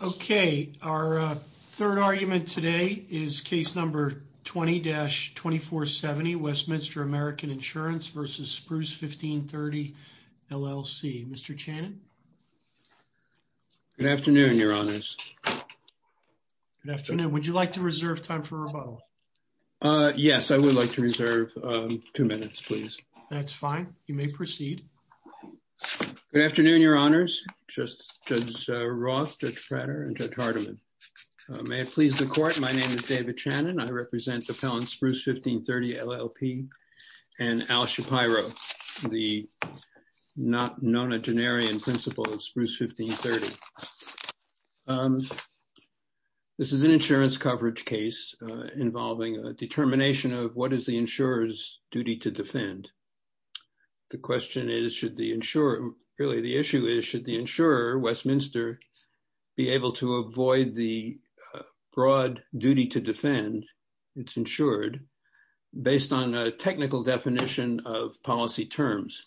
Okay, our third argument today is case number 20-2470, Westminster American Insurance v. Spruce1530LLC. Mr. Channon? Good afternoon, your honors. Good afternoon. Would you like to reserve time for rebuttal? Yes, I would like to reserve two minutes, please. That's fine. You may proceed. Good afternoon, your honors. Judge Roth, Judge Frater, and Judge Hardiman. May it please the court, my name is David Channon. I represent the felons Spruce1530LLP and Al Shapiro, the nonagenarian principal of Spruce1530. This is an insurance coverage case involving a determination of what is the insurer's duty to defend. The question is, should the insurer, really the issue is, should the insurer, Westminster, be able to avoid the broad duty to defend, it's insured, based on a technical definition of policy terms.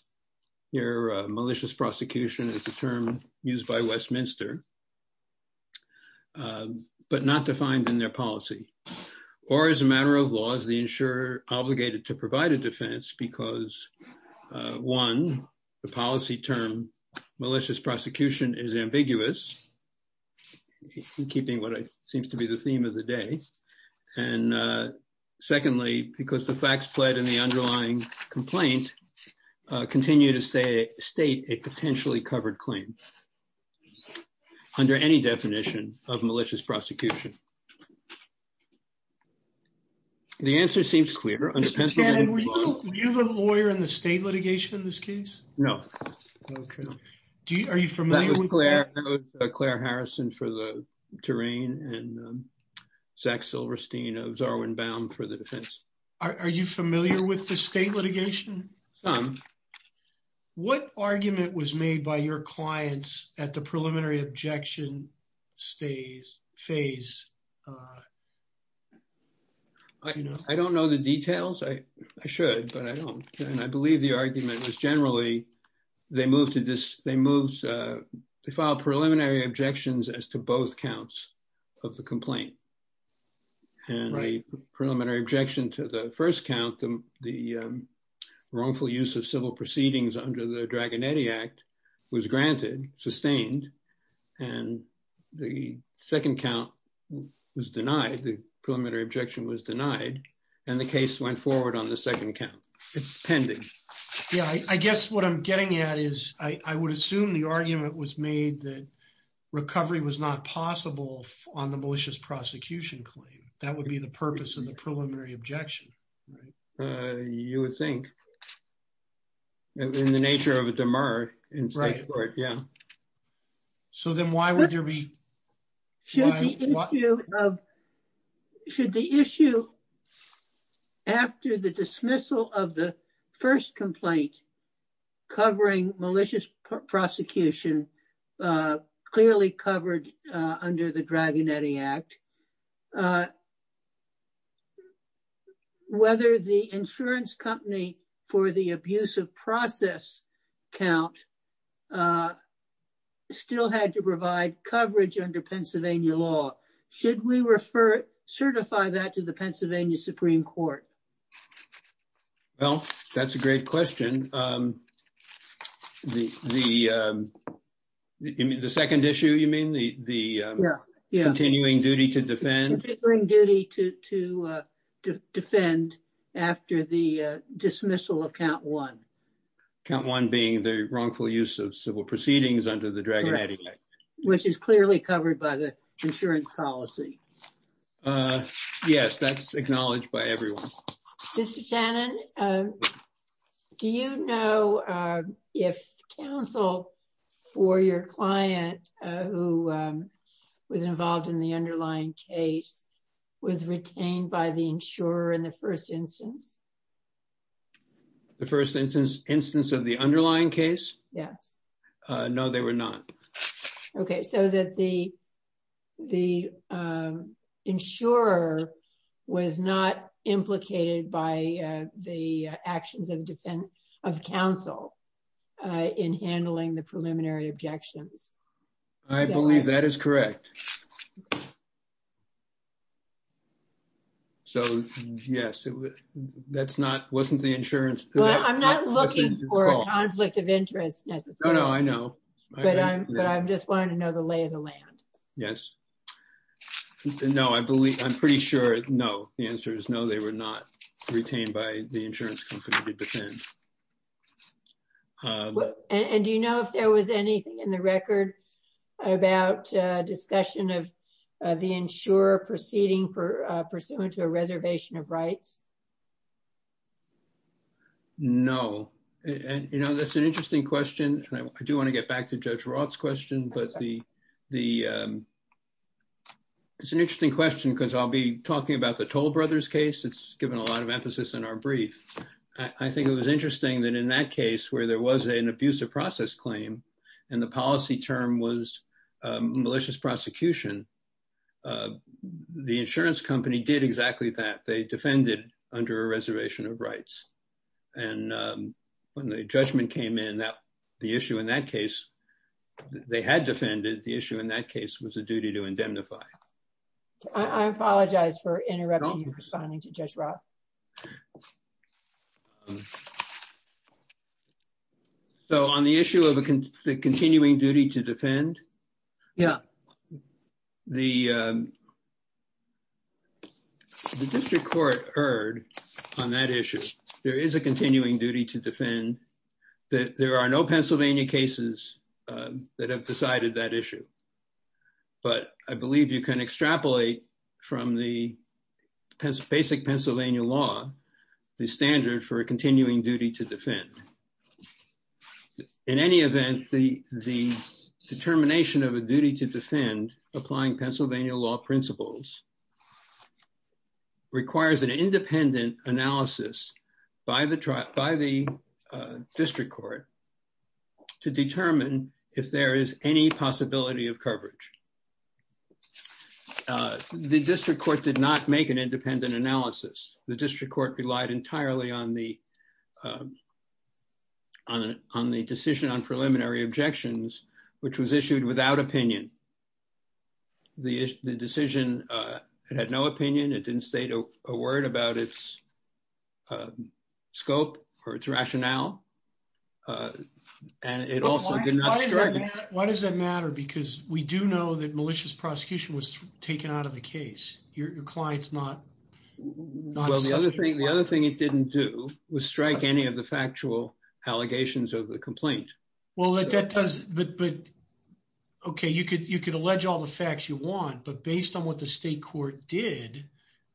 Here, malicious prosecution is a term used by Westminster, but not defined in their policy. Or as a matter of law, is the insurer obligated to provide a defense because, one, the policy term malicious prosecution is ambiguous, keeping what seems to be the theme of the day. And secondly, because the facts played in the underlying complaint continue to state a potentially covered claim, under any definition of malicious prosecution. The answer seems clear. Mr. Channon, were you the lawyer in the state litigation in this case? No. Okay. Are you familiar with that? That was Claire Harrison for the terrain, and Zach Silverstein of Zarwin Baum for the defense. Are you familiar with the state litigation? Some. What argument was made by your clients at the preliminary objection phase, you know? I don't know the details. I should, but I don't. And I believe the argument was, generally, they moved to this, they moved, they filed preliminary objections as to both counts of the complaint. And the preliminary objection to the first count, the wrongful use of civil proceedings under the Dragonetti Act, was granted, sustained. And the second count was denied, the preliminary objection was denied. And the case went forward on the second count. It's pending. Yeah, I guess what I'm getting at is, I would assume the argument was made that recovery was not possible on the malicious prosecution claim. That would be the purpose of the preliminary objection. You would think. In the nature of a demur in state court, yeah. So then why would there be? Should the issue of, should the issue after the dismissal of the first complaint covering malicious prosecution, clearly covered under the Dragonetti Act, whether the insurance company for the abuse of process count still had to provide coverage under Pennsylvania law? Should we refer, certify that to the Pennsylvania Supreme Court? Well, that's a great question. The second issue, you mean, the continuing duty to defend. The continuing duty to defend after the dismissal of count one. Count one being the wrongful use of civil proceedings under the Dragonetti Act. Which is clearly covered by the insurance policy. Yes, that's acknowledged by everyone. Mr. Shannon, do you know if counsel for your client who was involved in the underlying case was retained by the insurer in the first instance? The first instance of the underlying case? Yes. No, they were not. Okay. So that the insurer was not implicated by the actions of counsel in handling the preliminary objections. I believe that is correct. So, yes, that's not, wasn't the insurance. Well, I'm not looking for a conflict of Yes. No, I believe I'm pretty sure. No, the answer is no, they were not retained by the insurance company to defend. And do you know if there was anything in the record about discussion of the insurer proceeding pursuant to a reservation of rights? No. And, you know, that's an interesting question. I do want to get back to Judge Roth's question, but it's an interesting question, because I'll be talking about the Toll Brothers case. It's given a lot of emphasis in our brief. I think it was interesting that in that case, where there was an abusive process claim, and the policy term was malicious prosecution, the insurance company did exactly that. They defended under a reservation of rights. And when the judgment came in that issue in that case, they had defended the issue in that case was a duty to indemnify. I apologize for interrupting you responding to Judge Roth. So on the issue of a continuing duty to defend. Yeah. The District Court heard on that issue, there is a continuing duty to defend. There are no Pennsylvania cases that have decided that issue. But I believe you can extrapolate from the basic Pennsylvania law, the standard for a continuing duty to defend. In any event, the determination of a duty to defend applying Pennsylvania law principles requires an independent analysis by the District Court to determine if there is any possibility of coverage. The District Court did not make an independent analysis. The District Court relied entirely on the decision on preliminary objections, which was issued without opinion. The decision had no opinion, it didn't state a word about its scope or its rationale. And it also did not strike. Why does that matter? Because we do know that malicious prosecution was taken out of the case. Your client's not... Well, the other thing it didn't do was strike any of factual allegations of the complaint. Well, that does... Okay, you could allege all the facts you want, but based on what the State Court did,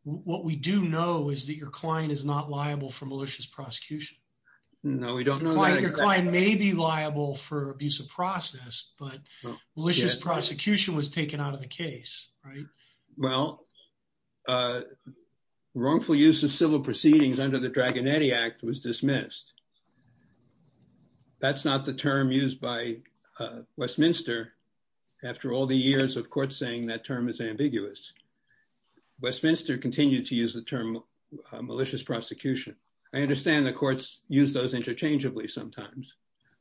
what we do know is that your client is not liable for malicious prosecution. No, we don't know that. Your client may be liable for abuse of process, but malicious prosecution was taken out of the case, right? Well, wrongful use of civil proceedings under the Dragonetti Act was dismissed. That's not the term used by Westminster after all the years of courts saying that term is ambiguous. Westminster continued to use the term malicious prosecution. I understand the courts use those interchangeably sometimes,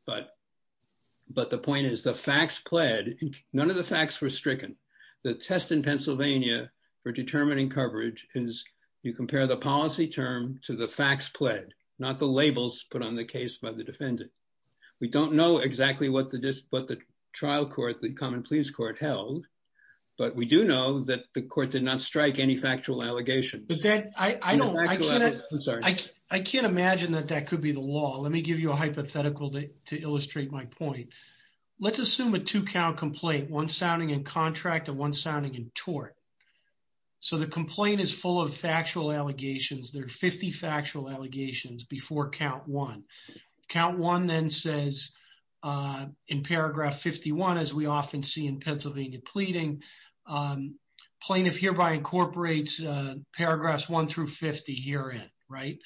but the point is the facts pled, none of the facts were stricken. The test in Pennsylvania for determining coverage is you compare the policy term to the facts pled, not the labels put on the case by the defendant. We don't know exactly what the trial court, the common pleas court held, but we do know that the court did not strike any factual allegations. I can't imagine that that could be the law. Let me give you a hypothetical to illustrate my point. Let's assume a two count complaint, one sounding in contract and one sounding in tort. So the complaint is full of factual allegations. There are 50 factual allegations before count one. Count one then says in paragraph 51, as we often see in Pennsylvania pleading, plaintiff hereby incorporates paragraphs one through 50 herein, right?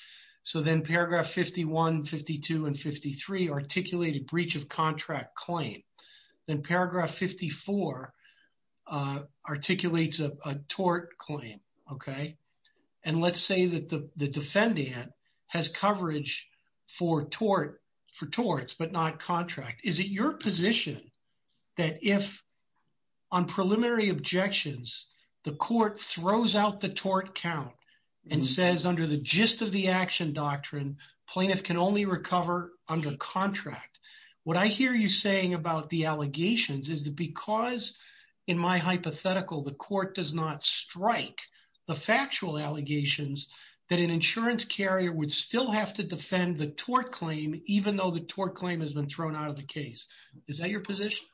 So then paragraph 51, 52, and 53 articulated breach of contract claim. Then paragraph 54 articulates a tort claim. Okay. And let's say that the defendant has coverage for tort, for torts, but not contract. Is it your position that if on preliminary objections, the court throws out the tort count and says under the What I hear you saying about the allegations is that because in my hypothetical, the court does not strike the factual allegations that an insurance carrier would still have to defend the tort claim, even though the tort claim has been thrown out of the case. Is that your position?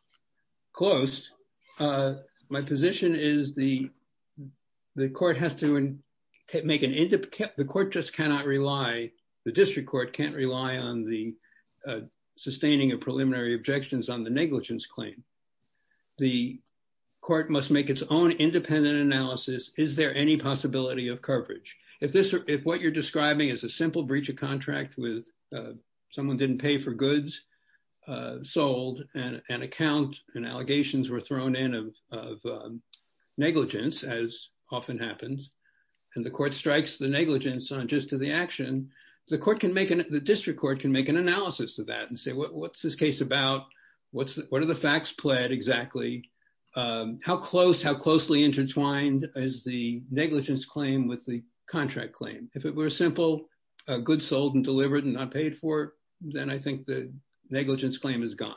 Close. My position is the court has to make an, the court just cannot rely, the district court can't rely on the sustaining of preliminary objections on the negligence claim. The court must make its own independent analysis. Is there any possibility of coverage? If what you're describing is a simple breach of contract with someone didn't pay for goods sold and an account and allegations were thrown in of negligence, as often happens, and the court strikes the negligence on just to the action, the court can make an, the district court can make an analysis of that and say, what's this case about? What's the, what are the facts pled exactly? How close, how closely intertwined is the negligence claim with the contract claim? If it were a simple goods sold and delivered and not paid for, then I think the negligence claim is gone.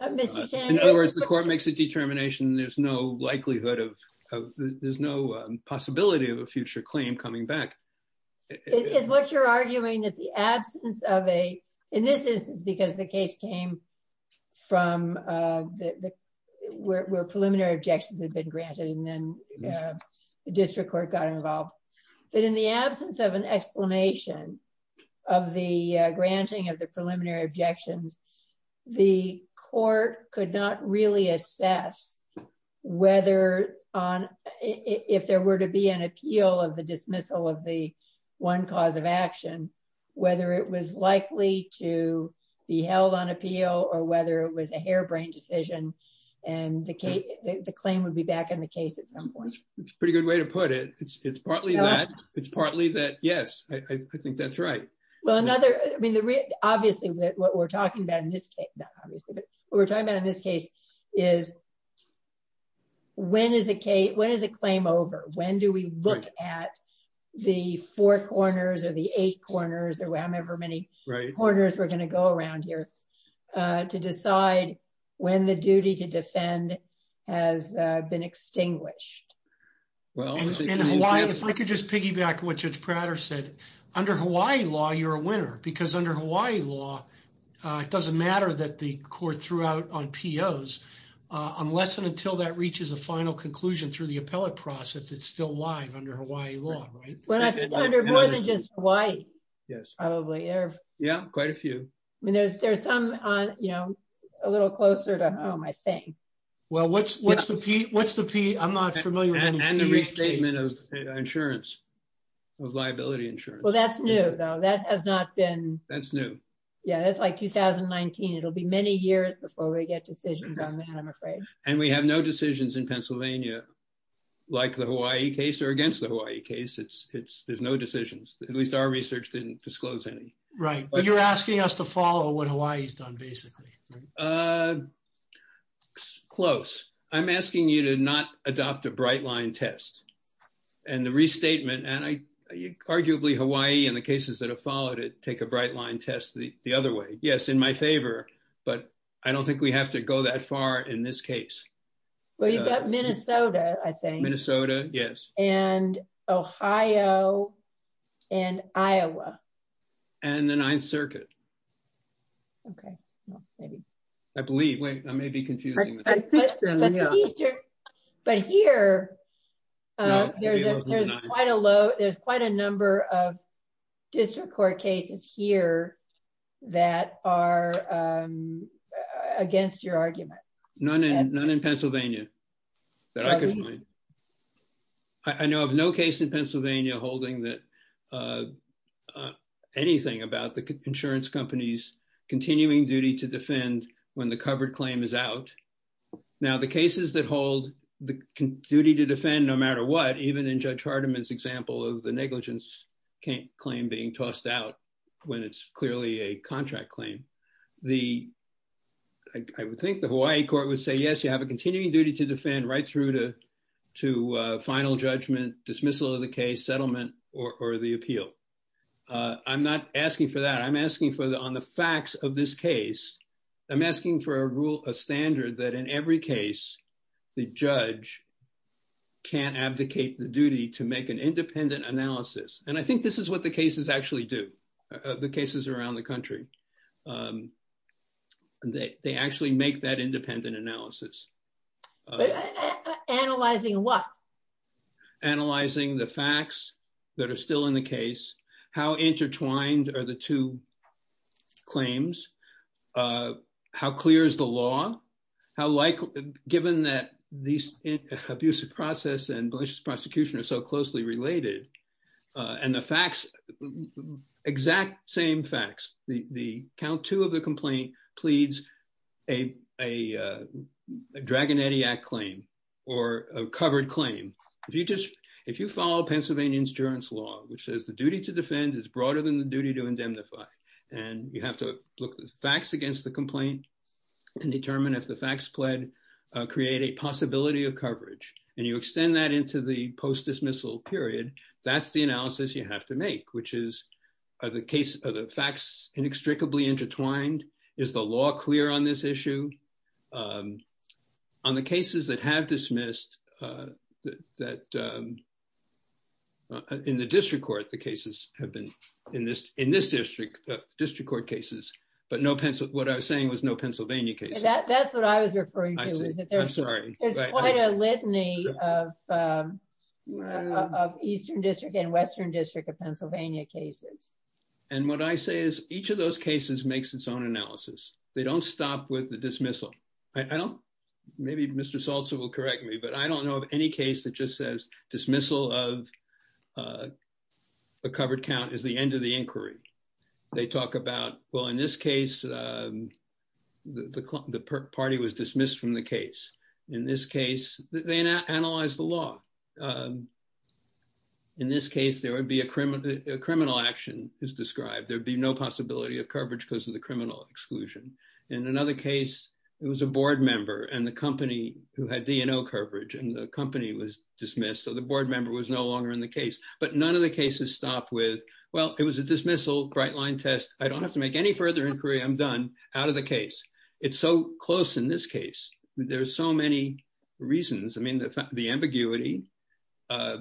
In other words, the court makes a determination. There's no likelihood of, there's no possibility of a future claim coming back. Is what you're arguing that the absence of a, in this instance, because the case came from where preliminary objections had been granted and then the district court got involved, that in the absence of an explanation of the granting of the preliminary objections, the court could not really assess whether on, if there were to be an appeal of the dismissal of the one cause of action, whether it was likely to be held on appeal or whether it was a harebrained decision and the case, the claim would be back in the case at some point. It's a pretty good way to put it. It's partly that, it's partly that yes, I think that's right. Well, another, I mean, obviously what we're talking about in this case, not obviously, but what we're talking about in this case is when is a claim over? When do we look at the four corners or the eight corners or however many corners we're going to go around here to decide when the duty to defend has been extinguished? Well, in Hawaii, if I could just piggyback on what Judge Prater said, under Hawaii law, you're a winner because under Hawaii law, it doesn't matter that the court threw out on POs, unless and until that reaches a final conclusion through the appellate process, it's still live under Hawaii law, right? Well, I think under more than just Hawaii, yes, probably. Yeah, quite a few. I mean, there's some, you know, a little closer to home, I think. Well, what's the P? I'm not familiar with any P cases. And the restatement of insurance, of liability insurance. Well, that's new though. That has not been... That's new. Yeah, that's like 2019. It'll be many years before we get decisions on that, I'm afraid. And we have no decisions in Pennsylvania, like the Hawaii case or against the Hawaii case. There's no decisions. At least our research didn't disclose any. Right, but you're asking us to follow what Hawaii's done, basically. Uh, close. I'm asking you to not adopt a bright line test. And the restatement, and arguably Hawaii and the cases that have followed it take a bright line test the other way. Yes, in my favor, but I don't think we have to go that far in this case. Well, you've got Minnesota, I think. Minnesota, yes. And Ohio and Iowa. And the Ninth Circuit. Okay, well, maybe. I believe. Wait, I may be confusing. But here, there's quite a number of district court cases here that are against your argument. None in Pennsylvania that I could find. I know of no case in Pennsylvania holding that anything about the insurance company's continuing duty to defend when the covered claim is out. Now, the cases that hold the duty to defend no matter what, even in Judge Hardiman's example of the negligence claim being tossed out when it's clearly a contract claim. The, I would think the Hawaii court would say, yes, you have a continuing duty to defend right to final judgment, dismissal of the case, settlement, or the appeal. I'm not asking for that. I'm asking for, on the facts of this case, I'm asking for a rule, a standard that in every case, the judge can't abdicate the duty to make an independent analysis. And I think this is what the cases actually do, the cases around the Analyzing what? Analyzing the facts that are still in the case. How intertwined are the two claims? How clear is the law? How likely, given that these abusive process and malicious prosecution are so closely related, and the facts, exact same facts, the count two of the complaint pleads a Dragon Etiac claim or a covered claim. If you just, if you follow Pennsylvania insurance law, which says the duty to defend is broader than the duty to indemnify. And you have to look at the facts against the complaint and determine if the facts plead create a possibility of coverage. And you extend that into the post dismissal period. That's the analysis you have to make, which is the case of the facts inextricably intertwined. Is the law clear on this issue? On the cases that have dismissed that in the district court, the cases have been in this, in this district, district court cases, but no pencil. What I was saying was no Pennsylvania case. That's what I was referring to is that there's quite a litany of Eastern District and Western District of Pennsylvania cases. And what I say is each of those cases makes its own analysis. They don't stop with the dismissal. I don't, maybe Mr. Salsa will correct me, but I don't know of any case that just says dismissal of a covered count is the end of the inquiry. They talk about, well, in this case, the party was dismissed from the case. In this case, they analyze the law. In this case, there would be a criminal action is described. There'd be no possibility of coverage because of the criminal exclusion. In another case, it was a board member and the company who had DNO coverage and the company was dismissed. So the board member was no longer in the case, but none of the cases stopped with, well, it was a dismissal bright line test. I don't have to make any further inquiry. I'm done out of the case. It's so close in this case, there's so many reasons. I mean, the ambiguity, I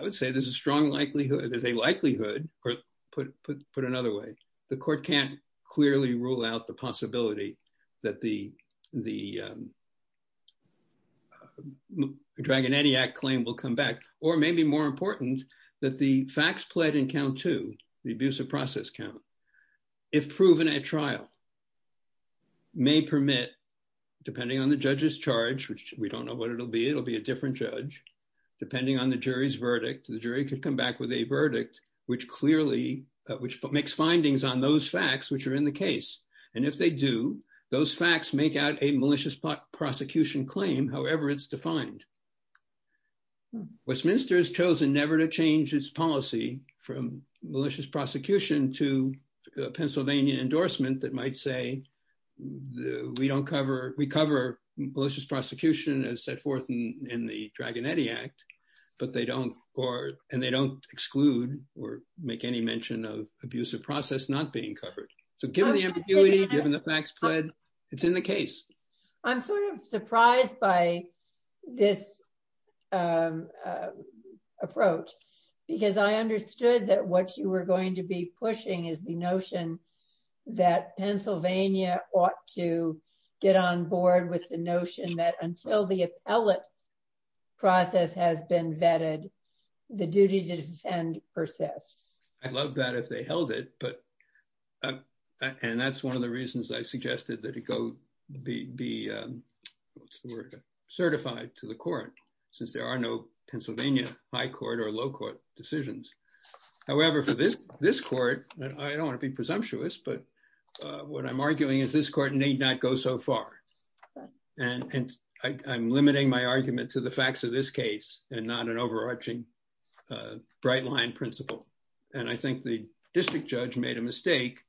would say there's a strong likelihood, there's a likelihood, or put another way, the court can't clearly rule out the possibility that the Dragon Etiac claim will come back. Or maybe more important that the facts played in count two, the abuse of process count, if proven at trial, may permit, depending on the judge's charge, which we don't know what it'll be, it'll be a different judge. Depending on the jury's verdict, the jury could come back with a verdict, which clearly, which makes findings on those facts, which are in the case. And if they do, those facts make out a malicious prosecution claim, however, it's defined. Westminster has a Pennsylvania endorsement that might say, we don't cover, we cover malicious prosecution as set forth in the Dragon Etiac, but they don't, and they don't exclude or make any mention of abusive process not being covered. So given the ambiguity, given the facts played, it's in the case. I'm sort of surprised by this approach, because I understood that what you were going to be pushing is the notion that Pennsylvania ought to get on board with the notion that until the appellate process has been vetted, the duty to defend persists. I'd love that if they held it, but, and that's one of the reasons I suggested that it go, be certified to the court, since there are no Pennsylvania high court or low court decisions. However, for this, this court, I don't want to be presumptuous, but what I'm arguing is this court need not go so far. And I'm limiting my argument to the facts of this case and not an overarching bright line principle. And I think the district judge made a mistake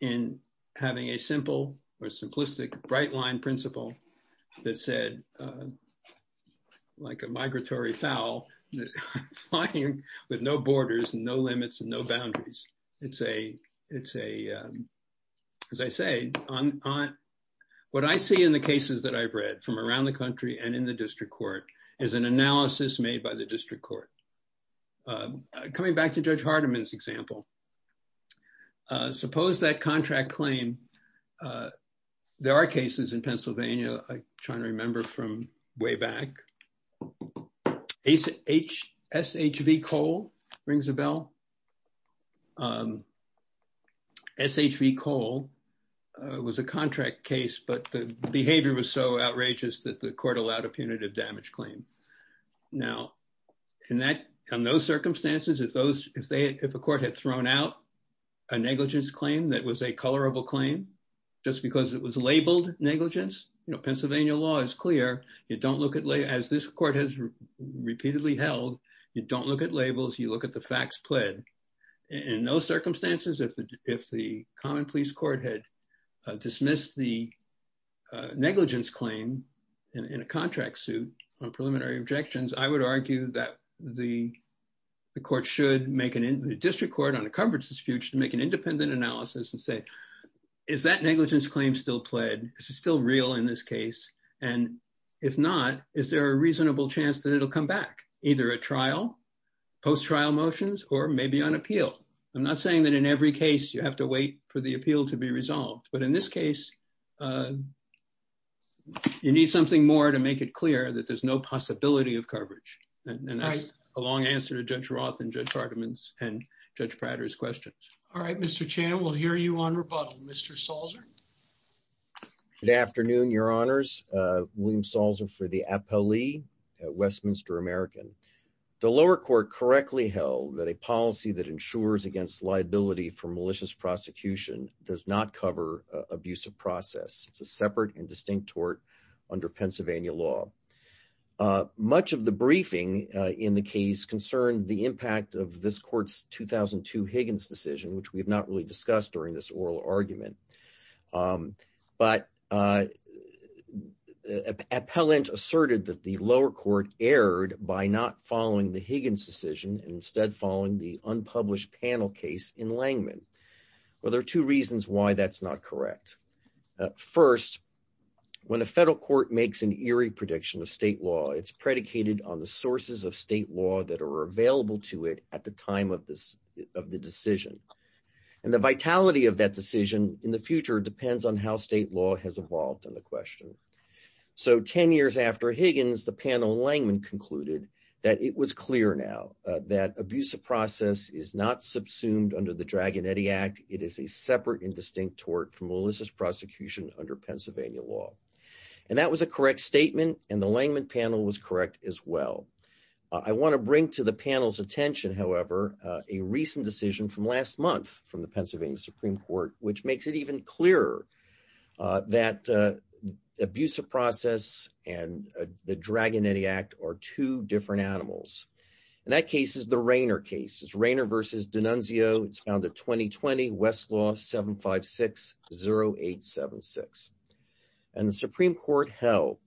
in having a simple or simplistic bright line principle that said, like a migratory fowl, flying with no borders and no limits and no boundaries. It's a, as I say, what I see in the cases that I've read from around the country and in the district court is an analysis made by the district court. Coming back to Judge Hardiman's example, suppose that contract claim, there are cases in Pennsylvania. I'm trying to remember from way back. SHV Cole rings a bell. SHV Cole was a contract case, but the behavior was so outrageous that the court allowed a punitive damage claim. Now in that, on those circumstances, if those, if they, if a court had thrown out a negligence claim, that was a colorable claim, just because it was labeled negligence, you know, Pennsylvania law is clear. You don't look at, as this court has repeatedly held, you don't look at labels. You look at the facts pled. In those circumstances, if the common police court had dismissed the negligence claim in a contract suit on preliminary objections, I would argue that the court should make an, the district court on a coverage dispute should make an independent analysis and say, is that negligence claim still pled? Is it still real in this case? And if not, is there a reasonable chance that it'll come back either at trial, post-trial motions, or maybe on appeal? I'm not saying that in every case you have to wait for the appeal to be something more to make it clear that there's no possibility of coverage. And that's a long answer to judge Roth and judge Hardiman's and judge Prater's questions. All right, Mr. Chan, we'll hear you on rebuttal, Mr. Salzer. Good afternoon, your honors. William Salzer for the appellee at Westminster American. The lower court correctly held that a policy that ensures against liability for malicious prosecution does not cover abusive process. It's a separate and distinct tort under Pennsylvania law. Much of the briefing in the case concerned the impact of this court's 2002 Higgins decision, which we have not really discussed during this oral argument. But appellant asserted that the lower court erred by not following the Higgins decision and instead following the unpublished panel case in Langman. Well, there are two reasons why that's not correct. First, when a federal court makes an eerie prediction of state law, it's predicated on the sources of state law that are available to it at the time of the decision. And the vitality of that decision in the future depends on how state law has evolved on the question. So 10 years after Higgins, the panel in Langman concluded that it was clear now that abusive process is not subsumed under the Draganetti Act. It is a separate and distinct tort from malicious prosecution under Pennsylvania law. And that was a correct statement. And the Langman panel was correct as well. I want to bring to the panel's attention, however, a recent decision from last month from the Pennsylvania Supreme Court, which makes it even clearer that abusive process and the Draganetti Act are two different animals. And that case is the Rainer case. It's Rainer versus D'Annunzio. It's found at 2020 Westlaw 7560876. And the Supreme Court held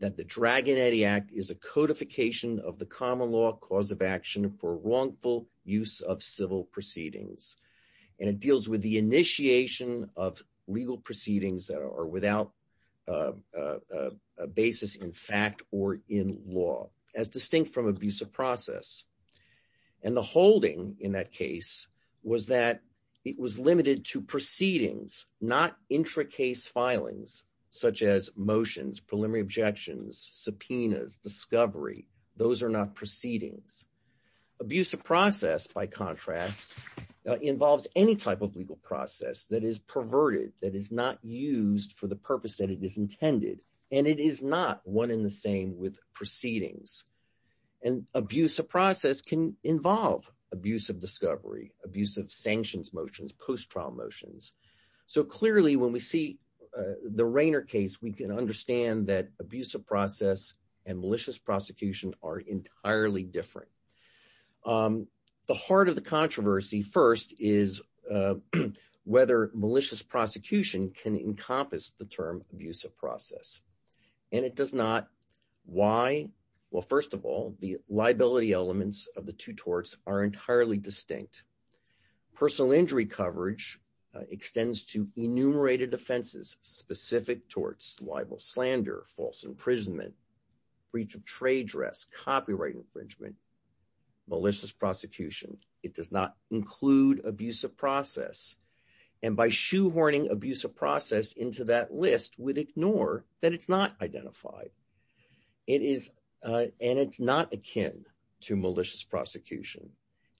that the Draganetti Act is a codification of the common cause of action for wrongful use of civil proceedings. And it deals with the initiation of legal proceedings that are without a basis in fact or in law as distinct from abusive process. And the holding in that case was that it was limited to proceedings, not intracase filings, such as motions, preliminary objections, subpoenas, discovery. Those are not proceedings. Abusive process, by contrast, involves any type of legal process that is perverted, that is not used for the purpose that it is intended. And it is not one in the same with proceedings. And abusive process can involve abuse of discovery, abuse of sanctions motions, post-trial motions. So clearly, when we see the Rainer case, we can understand that abusive process and malicious prosecution are entirely different. The heart of the controversy first is whether malicious prosecution can encompass the term abusive process. And it does not. Why? Well, first of all, the liability elements of the two torts are entirely distinct. Personal injury coverage extends to enumerated offenses specific towards libel, slander, false imprisonment, breach of trade dress, copyright infringement, malicious prosecution. It does not include abusive process. And by shoehorning abusive process into that list, we'd ignore that it's not identified. And it's not akin to malicious prosecution.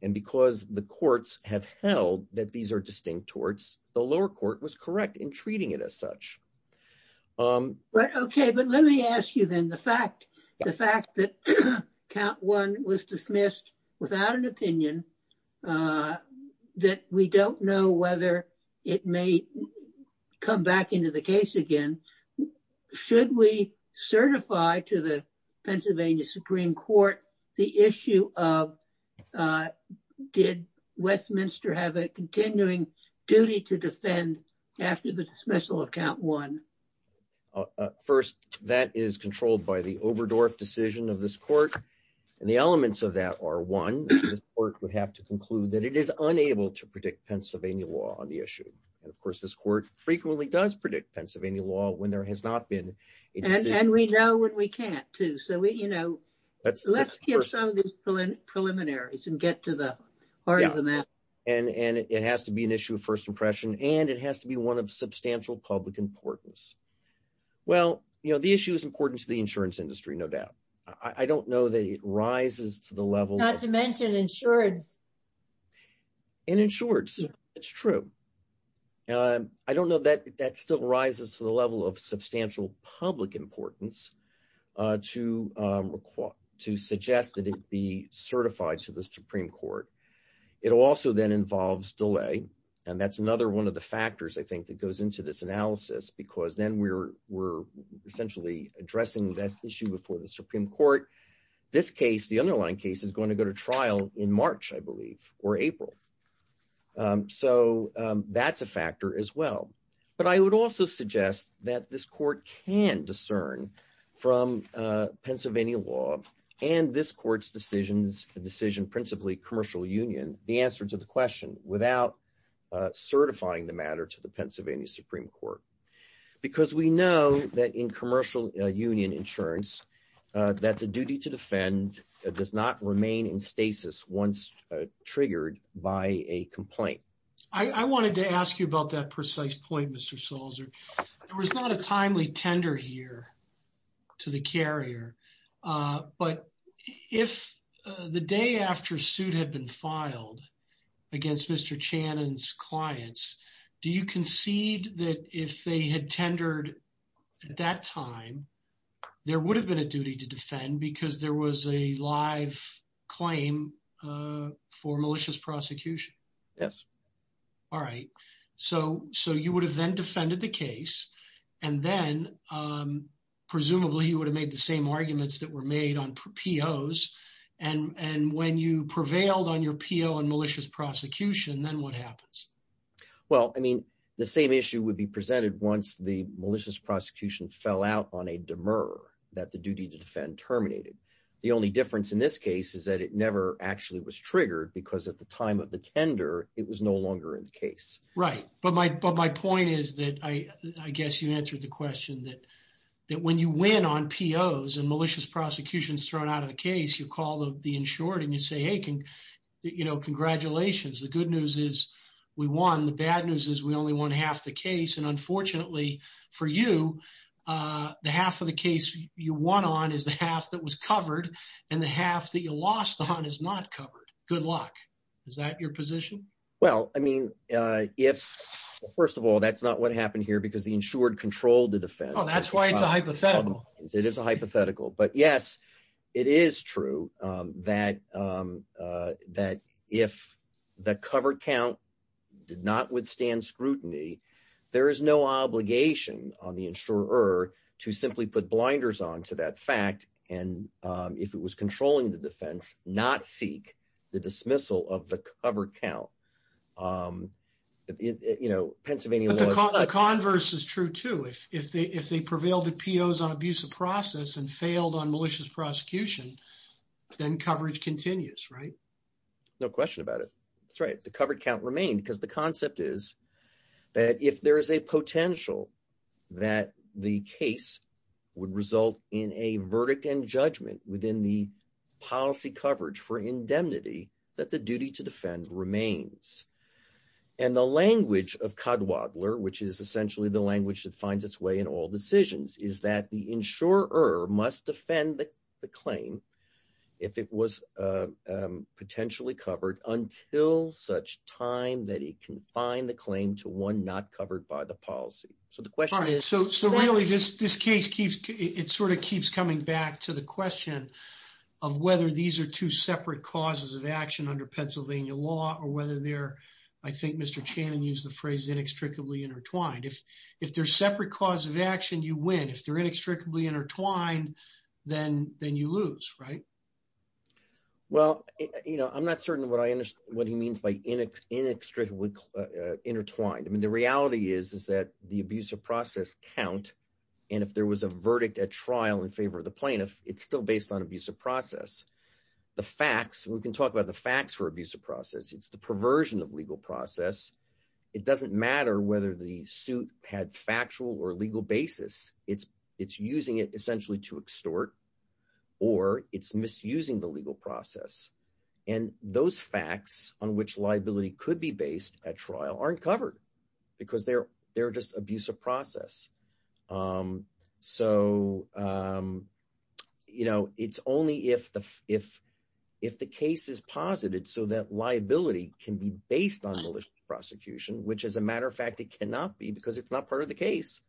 And because the courts have held that these are distinct torts, the lower court was correct in treating it as such. But OK, but let me ask you, then, the fact that count one was dismissed without an opinion, that we don't know whether it may come back into the case again, should we certify to the Westminster have a continuing duty to defend after the dismissal of count one? First, that is controlled by the Oberdorf decision of this court. And the elements of that are one, this court would have to conclude that it is unable to predict Pennsylvania law on the issue. And of course, this court frequently does predict Pennsylvania law when there has not been. And we know what we can't do. So, you know, let's let's get some of these preliminaries and get to the heart of the matter. And it has to be an issue of first impression and it has to be one of substantial public importance. Well, you know, the issue is important to the insurance industry, no doubt. I don't know that it rises to the level. Not to mention insureds. And insureds, it's true. I don't know that that still rises to the level of substantial public importance to to suggest that it be certified to the Supreme Court. It also then involves delay. And that's another one of the factors, I think, that goes into this analysis, because then we're we're essentially addressing that issue before the Supreme Court. This case, the underlying case is going to go to trial in March, I believe, or April. So that's a factor as well. But I would also suggest that this court can discern from Pennsylvania law and this court's decisions decision, principally Commercial Union, the answer to the question without certifying the matter to the Pennsylvania Supreme Court, because we know that in commercial union insurance that the duty to defend does not remain in stasis once triggered by a complaint. I wanted to ask you about that precise point, Mr. Salzer. There was not a timely tender here to the carrier. But if the day after suit had been filed against Mr. Channon's clients, do you concede that if they had tendered at that time, there would have been a duty to defend because there was a live claim for malicious prosecution? Yes. All right. So so you would have then defended the case. And then presumably, you would have made the same arguments that were made on POs. And and when you prevailed on your PO and malicious prosecution, then what happens? Well, I mean, the same issue would be presented once the malicious prosecution fell out on a that the duty to defend terminated. The only difference in this case is that it never actually was triggered because at the time of the tender, it was no longer in the case. Right. But my but my point is that I guess you answered the question that that when you win on POs and malicious prosecutions thrown out of the case, you call the insured and you say, hey, you know, congratulations. The good news is we won. The bad news is we only won half the case. And unfortunately for you, the half of the case you won on is the half that was covered and the half that you lost on is not covered. Good luck. Is that your position? Well, I mean, if first of all, that's not what happened here because the insured controlled the defense. That's why it's a hypothetical. It is a hypothetical. But yes, it is true that that if the covered count did not withstand scrutiny, there is no obligation on the insurer to simply put blinders on to that fact. And if it was controlling the defense, not seek the dismissal of the covered count, you know, Pennsylvania. Converse is true, too, if if they if they prevailed at POs on abusive process and failed on malicious prosecution, then coverage continues. Right. No question about it. That's right. The covered count remained because the concept is that if there is a potential that the case would result in a verdict and judgment within the policy coverage for indemnity, that the duty to defend remains. And the language of Kudwadler, which is essentially the language that finds its way in all decisions, is that the insurer must defend the claim if it was potentially covered until such time that he can find the claim to one not covered by the policy. So the question is. So so really, this this case keeps it sort of keeps coming back to the question of whether these are two separate causes of action under Pennsylvania law or whether they're I think Mr. Channon used the phrase inextricably intertwined. If if they're separate cause of action, you win. If they're inextricably intertwined, then then you lose. Right. Well, you know, I'm not certain what I what he means by inextricably intertwined. I mean, the reality is, is that the abuse of process count. And if there was a verdict at trial in favor of the plaintiff, it's still based on abuse of process. The facts we can talk about the facts for abuse of process. It's the perversion of legal process. It doesn't matter whether the suit had factual or legal basis. It's it's using it essentially to extort or it's misusing the legal process. And those facts on which liability could be based at trial aren't covered because they're they're just abuse of process. So, you know, it's only if the if if the case is posited so that liability can be based on malicious prosecution, which, as a matter of fact, it cannot be because it's not part of the case.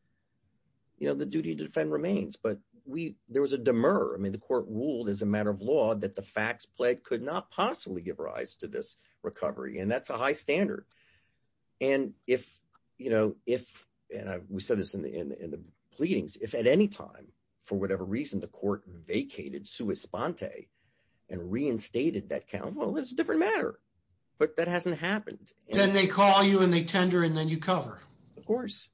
You know, the duty to defend remains, but we there was a demur. I mean, the court ruled as a matter of law that the facts played could not possibly give rise to this recovery. And that's a high standard. And if you know, if we said this in the pleadings, if at any time, for whatever reason, the court vacated sui sponte and reinstated that count, well, it's a different matter. But that hasn't happened. And they call you and they tender and then you cover. Of course,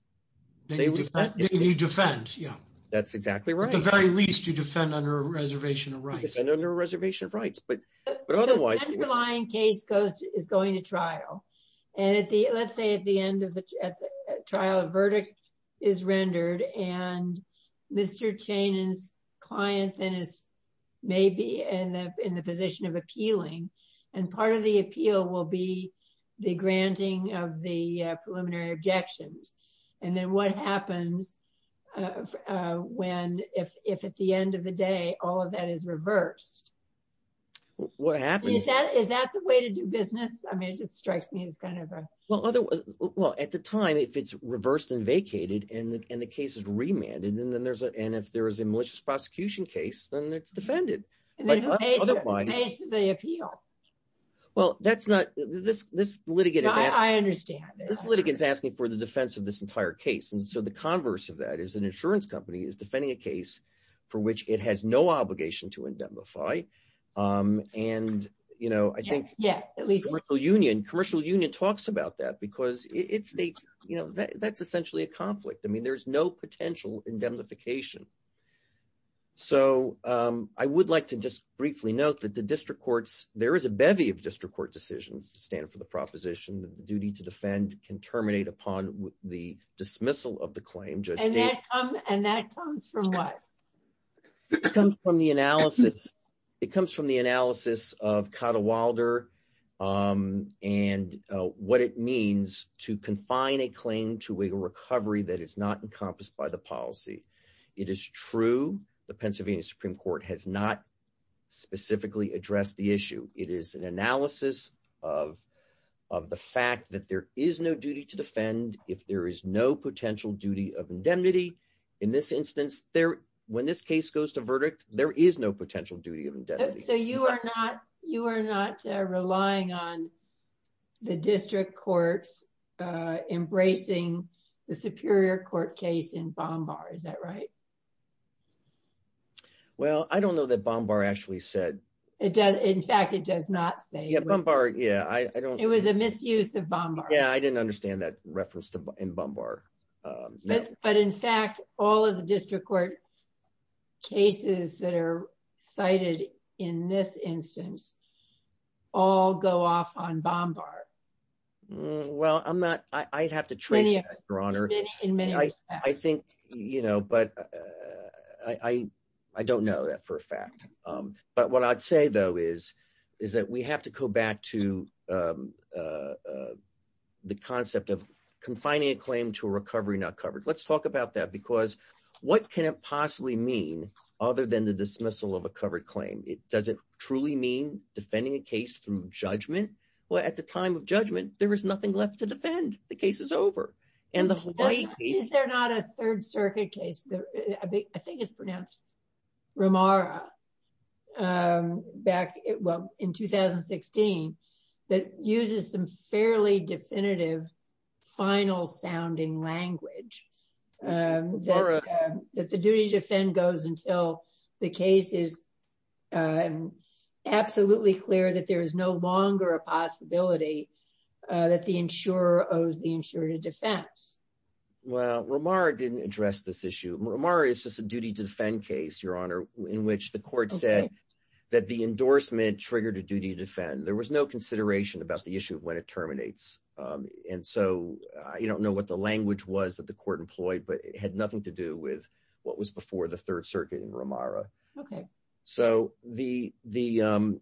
they do that. You defend. Yeah, that's exactly right. At the very least, you defend under a reservation of rights and under a reservation of rights. But but otherwise, underlying case goes is going to trial. And let's say at the end of the trial, a verdict is rendered and Mr. Chenin's client then is maybe in the position of appealing. And part of the appeal will be the granting of the preliminary objections. And then what happens when if if at the end of the day, all of that is reversed? What happens is that is that the way to do business? I mean, it strikes me as kind of well, otherwise, well, at the time, if it's reversed and vacated and the case is remanded, and then there's a and if there is a malicious prosecution case, then it's defended. But otherwise, they appeal. Well, that's not this. This litigant. I understand this litigants asking for the defense of this entire case. And so the converse of that is an insurance company is defending a case for which it has no obligation to indemnify. And, you know, I think, yeah, at least the union, commercial union talks about that, because it states, you know, that's essentially a conflict. I mean, there's no potential indemnification. So I would like to just briefly note that the district courts, there is a bevy of district court decisions to stand for the proposition that the duty to defend can terminate upon the dismissal of the claim and that comes from what comes from the analysis. It comes from the analysis of Kata Wilder. And what it means to confine a claim to a recovery that is not encompassed by the policy. It is true. The Pennsylvania Supreme Court has not specifically addressed the issue. It is an in this instance there when this case goes to verdict, there is no potential duty of indemnity. So you are not you are not relying on the district courts embracing the Superior Court case in Bombard. Is that right? Well, I don't know that Bombard actually said it does. In fact, it does not say Bombard. Yeah, I don't. It was a misuse of Bombard. Yeah, I didn't understand that reference to Bombard. No, but in fact, all of the district court cases that are cited in this instance, all go off on Bombard. Well, I'm not, I'd have to trace your honor. I think, you know, but I don't know that for a fact. But what I'd say though, is, is that we have to go back to the concept of confining a claim to a recovery not covered. Let's talk about that. Because what can it possibly mean? Other than the dismissal of a covered claim? It doesn't truly mean defending a case through judgment. Well, at the time of judgment, there is nothing left to defend. The case is over. And the Hawaii case. Is there not a Third Circuit case? I think it's pronounced Ramara back in 2016, that uses some fairly definitive, final sounding language. That the duty to defend goes until the case is absolutely clear that there is no longer a possibility that the insurer owes the insurer to defense. Well, Ramara didn't address this issue. Ramara is just a duty to defend case, your honor, in which the court said that the endorsement triggered a duty to defend. There was no consideration about the issue of when it terminates. And so you don't know what the language was that the court employed, but it had nothing to do with what was before the Third Circuit in Ramara. Okay. So the, the,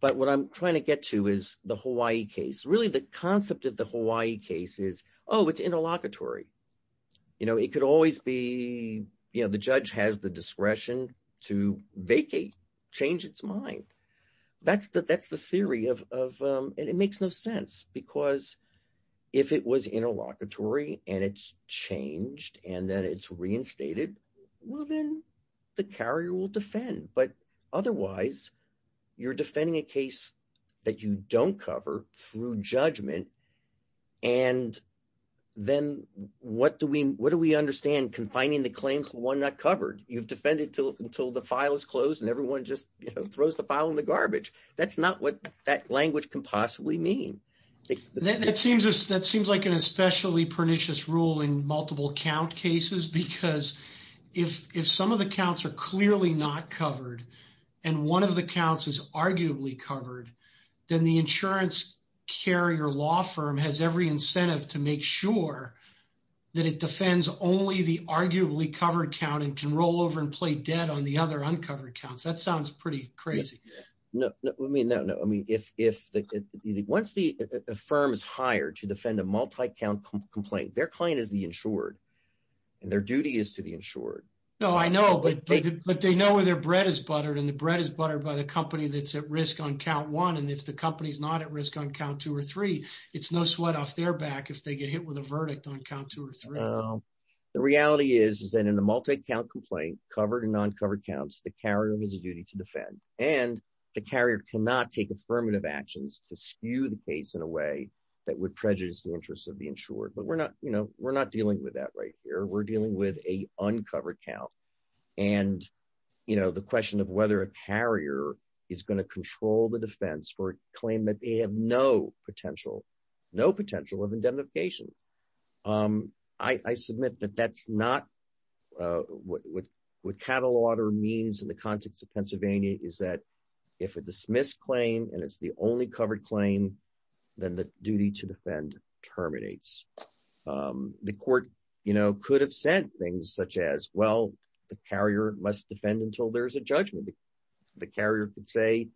but what I'm trying to get to is the Hawaii case. Really the concept of the Hawaii case is, oh, it's interlocutory. You know, it could always be, you know, the judge has the discretion to vacate, change its mind. That's the, that's the theory of, of it makes no sense because if it was interlocutory and it's changed and then it's reinstated, well, then the carrier will defend, but otherwise you're defending a case that you don't cover through judgment. And then what do we, what do we understand confining the claim for one not covered? You've defended until, until the file is closed and everyone just throws the file in the garbage. That's not what that language can possibly mean. That seems, that seems like an especially pernicious rule in multiple count cases, because if, if some of the counts are clearly not covered and one of the counts is arguably covered, then the insurance carrier law firm has every incentive to make sure that it defends only the arguably covered count and can roll over and play dead on the other uncovered counts. That sounds pretty crazy. No, no, I mean, no, no. I mean, if, if the, once the firm is hired to defend a multi-count complaint, their client is the insured and their duty is to the insured. No, I know, but they know where their bread is buttered and the bread is buttered by the company that's at risk on count one. And if the company's not at risk on count two or three, it's no sweat off their back if they get hit with a verdict on count two or three. The reality is, is that in a multi-count complaint covered and uncovered counts, the carrier has a duty to defend and the carrier cannot take affirmative actions to skew the case in a way that would prejudice the interests of the insured. But we're not, you know, we're not dealing with that right here. We're dealing with a uncovered count. And, you know, the question of whether a carrier is going to control the defense for a claim that they have no potential, no potential of indemnification. I, I submit that that's not what, what Cattlewater means in the context of Pennsylvania is that if a dismissed claim and it's the only covered claim, then the duty to defend terminates. The court, you know, could have sent things such as, well, the carrier must defend until there's a judgment. The carrier could say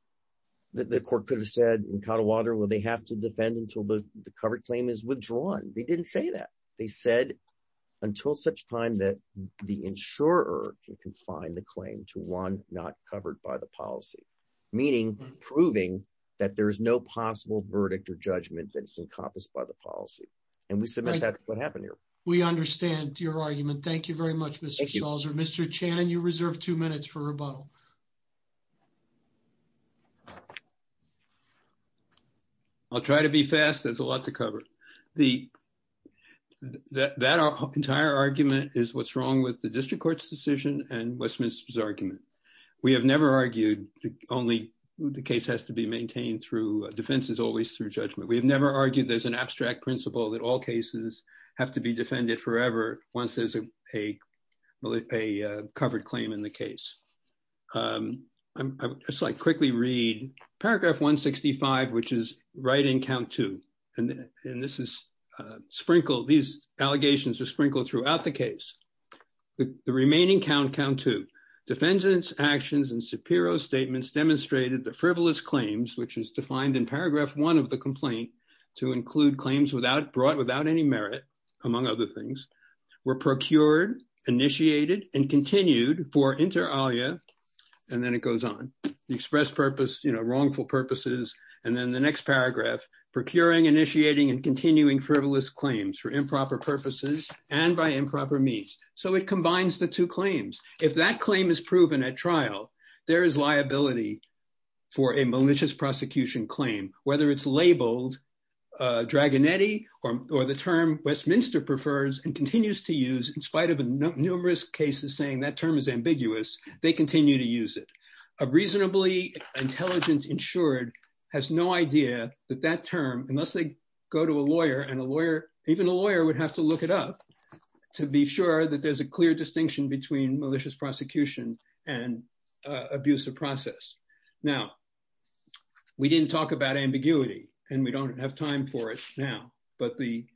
that the court could have said in Cattlewater, well, they have to defend until the covered claim is withdrawn. They didn't say that. They said until such time that the insurer can confine the claim to one not covered by the policy, meaning proving that there is no possible verdict or judgment that's encompassed by the policy. And we submit that's what happened here. We understand your argument. Thank you very much, Mr. Schallzer. Mr. Channon, you reserve two minutes for rebuttal. I'll try to be fast. There's a lot to cover. The, that our entire argument is what's wrong with the district court's decision and Westminster's argument. We have never argued only the case has to be maintained through defense is always through judgment. We have never argued there's an abstract principle that all cases have to be defended forever once there's a, a covered claim in the case. I'm just like quickly read paragraph 165, which is right in count two. And this is sprinkle, these allegations are sprinkled throughout the case. The remaining count count to defendants actions and Shapiro statements demonstrated the frivolous claims, which is defined in paragraph one of the complaint to include claims without brought without any merit among other things were procured initiated and continued for inter alia. And then it goes on the express purpose, you know, wrongful purposes. And then the next paragraph procuring initiating and continuing frivolous claims for improper purposes and by improper means. So it combines the two claims. If that claim is proven at trial, there is liability for a malicious prosecution claim, whether it's labeled Dragon, Eddie, or, or the term Westminster prefers and continues to use in spite of numerous cases saying that term is ambiguous. They continue to use it. A reasonably intelligent insured has no idea that that term, unless they go to a lawyer and a lawyer, even a lawyer would have to look it up to be sure that there's a clear distinction between malicious prosecution and abuse of process. Now, we didn't talk about ambiguity, and we don't have time for it now. But the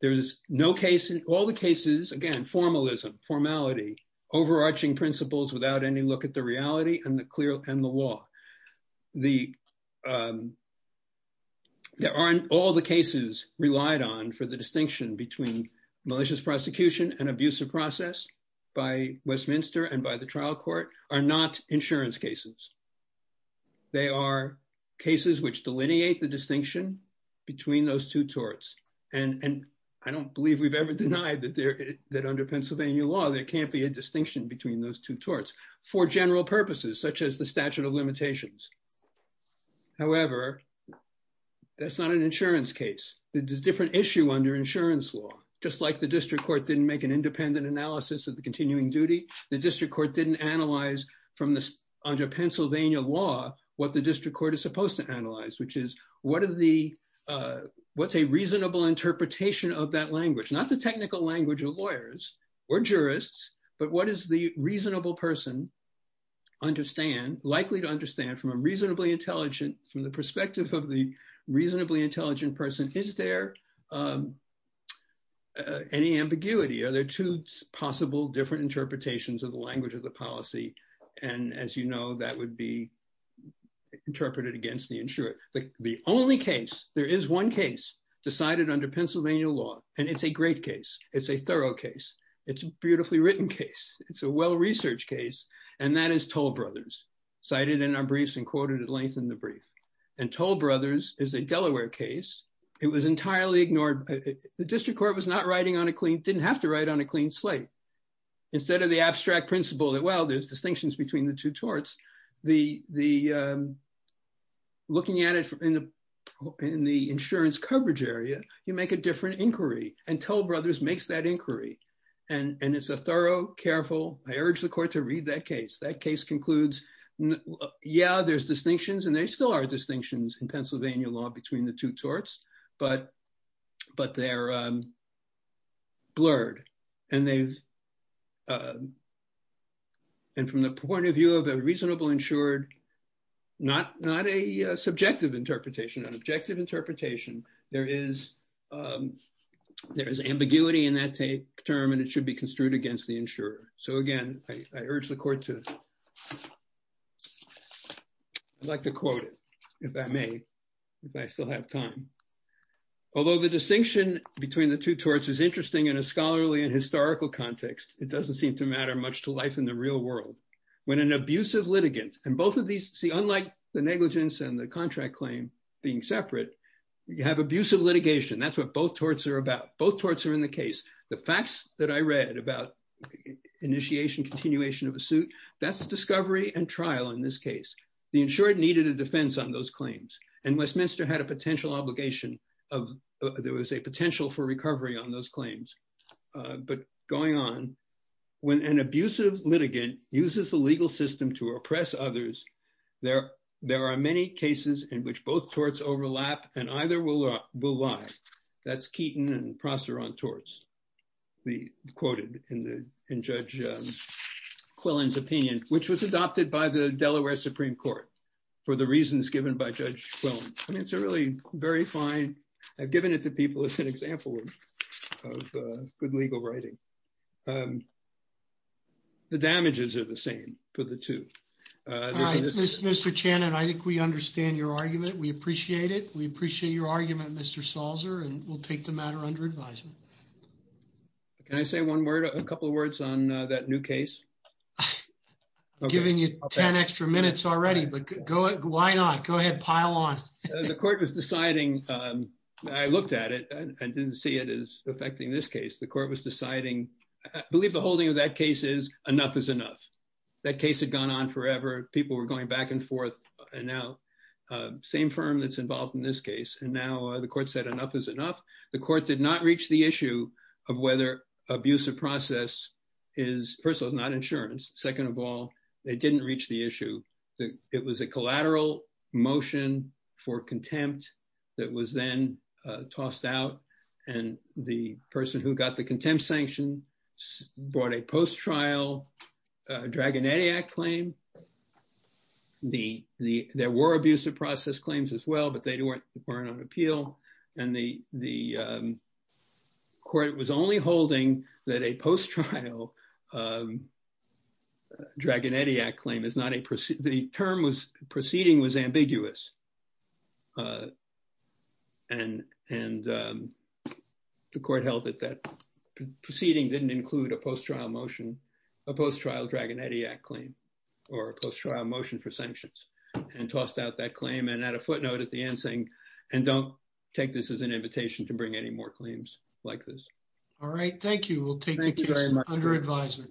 there's no case in all the cases, again, formalism, formality, overarching principles without any look at the reality and the clear and the law. The there aren't all the cases relied on for the distinction between malicious prosecution and abuse of process by Westminster and by the trial court are not insurance cases. They are cases which delineate the distinction between those two torts. And I don't believe we've ever denied that there that under Pennsylvania law, there can't be a distinction between those two torts for general purposes, such as the statute of limitations. However, that's not an insurance case, different issue under insurance law, just like the district court didn't make an independent analysis of the continuing duty, the district court didn't analyze from this under Pennsylvania law, what the district court is supposed to analyze, which is what are the what's a reasonable interpretation of that language, not the technical language of lawyers, or jurists, but what is the reasonable person understand likely to understand from a reasonably intelligent from the perspective of the reasonably intelligent person? Is there any ambiguity? Are there two possible different interpretations of the language of the policy? And as you know, that would be interpreted against the insurance, but the only case there is one case decided under Pennsylvania law. And it's a great case. It's a thorough case. It's a beautifully written case. It's a well researched case. And that is told brothers cited in our briefs and quoted at length in the brief. And told brothers is a Delaware case. It was entirely ignored. The district court was not writing on a clean didn't have to write on a clean slate. Instead of the abstract principle that well, there's distinctions between the two torts. The the looking at it from in the, in the insurance coverage area, you make a different inquiry and told brothers makes that inquiry. And it's a thorough careful, I urge the case that case concludes. Yeah, there's distinctions and they still are distinctions in Pennsylvania law between the two torts. But, but they're blurred. And they've and from the point of view of a reasonable insured, not not a subjective interpretation, an objective interpretation, there is there is ambiguity in that tape term, and it should be construed against the insurer. So again, I urge the court to like to quote it, if I may, if I still have time. Although the distinction between the two torts is interesting in a scholarly and historical context, it doesn't seem to matter much to life in the real world. When an abusive litigant and both of these see unlike the negligence and the contract claim being separate, you have abusive litigation. That's what both torts are about. Both torts are in the case, the facts that I read about initiation continuation of a suit. That's a discovery and trial. In this case, the insured needed a defense on those claims. And Westminster had a potential obligation of there was a potential for recovery on those claims. But going on, when an abusive litigant uses the legal system to oppress others, there, there are many cases in which both torts overlap, and either will lie. That's Keaton and Prosser on torts, the quoted in the in Judge Quillen's opinion, which was adopted by the Delaware Supreme Court, for the reasons given by Judge Quillen. I mean, it's a really very fine. I've given it to people as an example of good legal writing. The damages are the same for the two. All right, Mr. Channon, I think we understand your argument. We appreciate it. We appreciate your argument, Mr. Salzer, and we'll take the matter under advisement. Can I say one word, a couple of words on that new case? Giving you 10 extra minutes already, but go, why not? Go ahead, pile on. The court was deciding, I looked at it and didn't see it as affecting this case. The court was people were going back and forth. And now, same firm that's involved in this case. And now the court said enough is enough. The court did not reach the issue of whether abuse of process is personal is not insurance. Second of all, they didn't reach the issue that it was a collateral motion for contempt that was then tossed out. And the person who got the contempt sanction brought a post-trial Dragonetti Act claim. There were abusive process claims as well, but they weren't on appeal. And the court was only holding that a post-trial Dragonetti Act claim is not a, the term was proceeding was ambiguous. Uh, and, and, um, the court held that that proceeding didn't include a post-trial motion, a post-trial Dragonetti Act claim, or a post-trial motion for sanctions and tossed out that claim. And at a footnote at the end saying, and don't take this as an invitation to bring any more claims like this. All right. Thank you. We'll take it under advisement.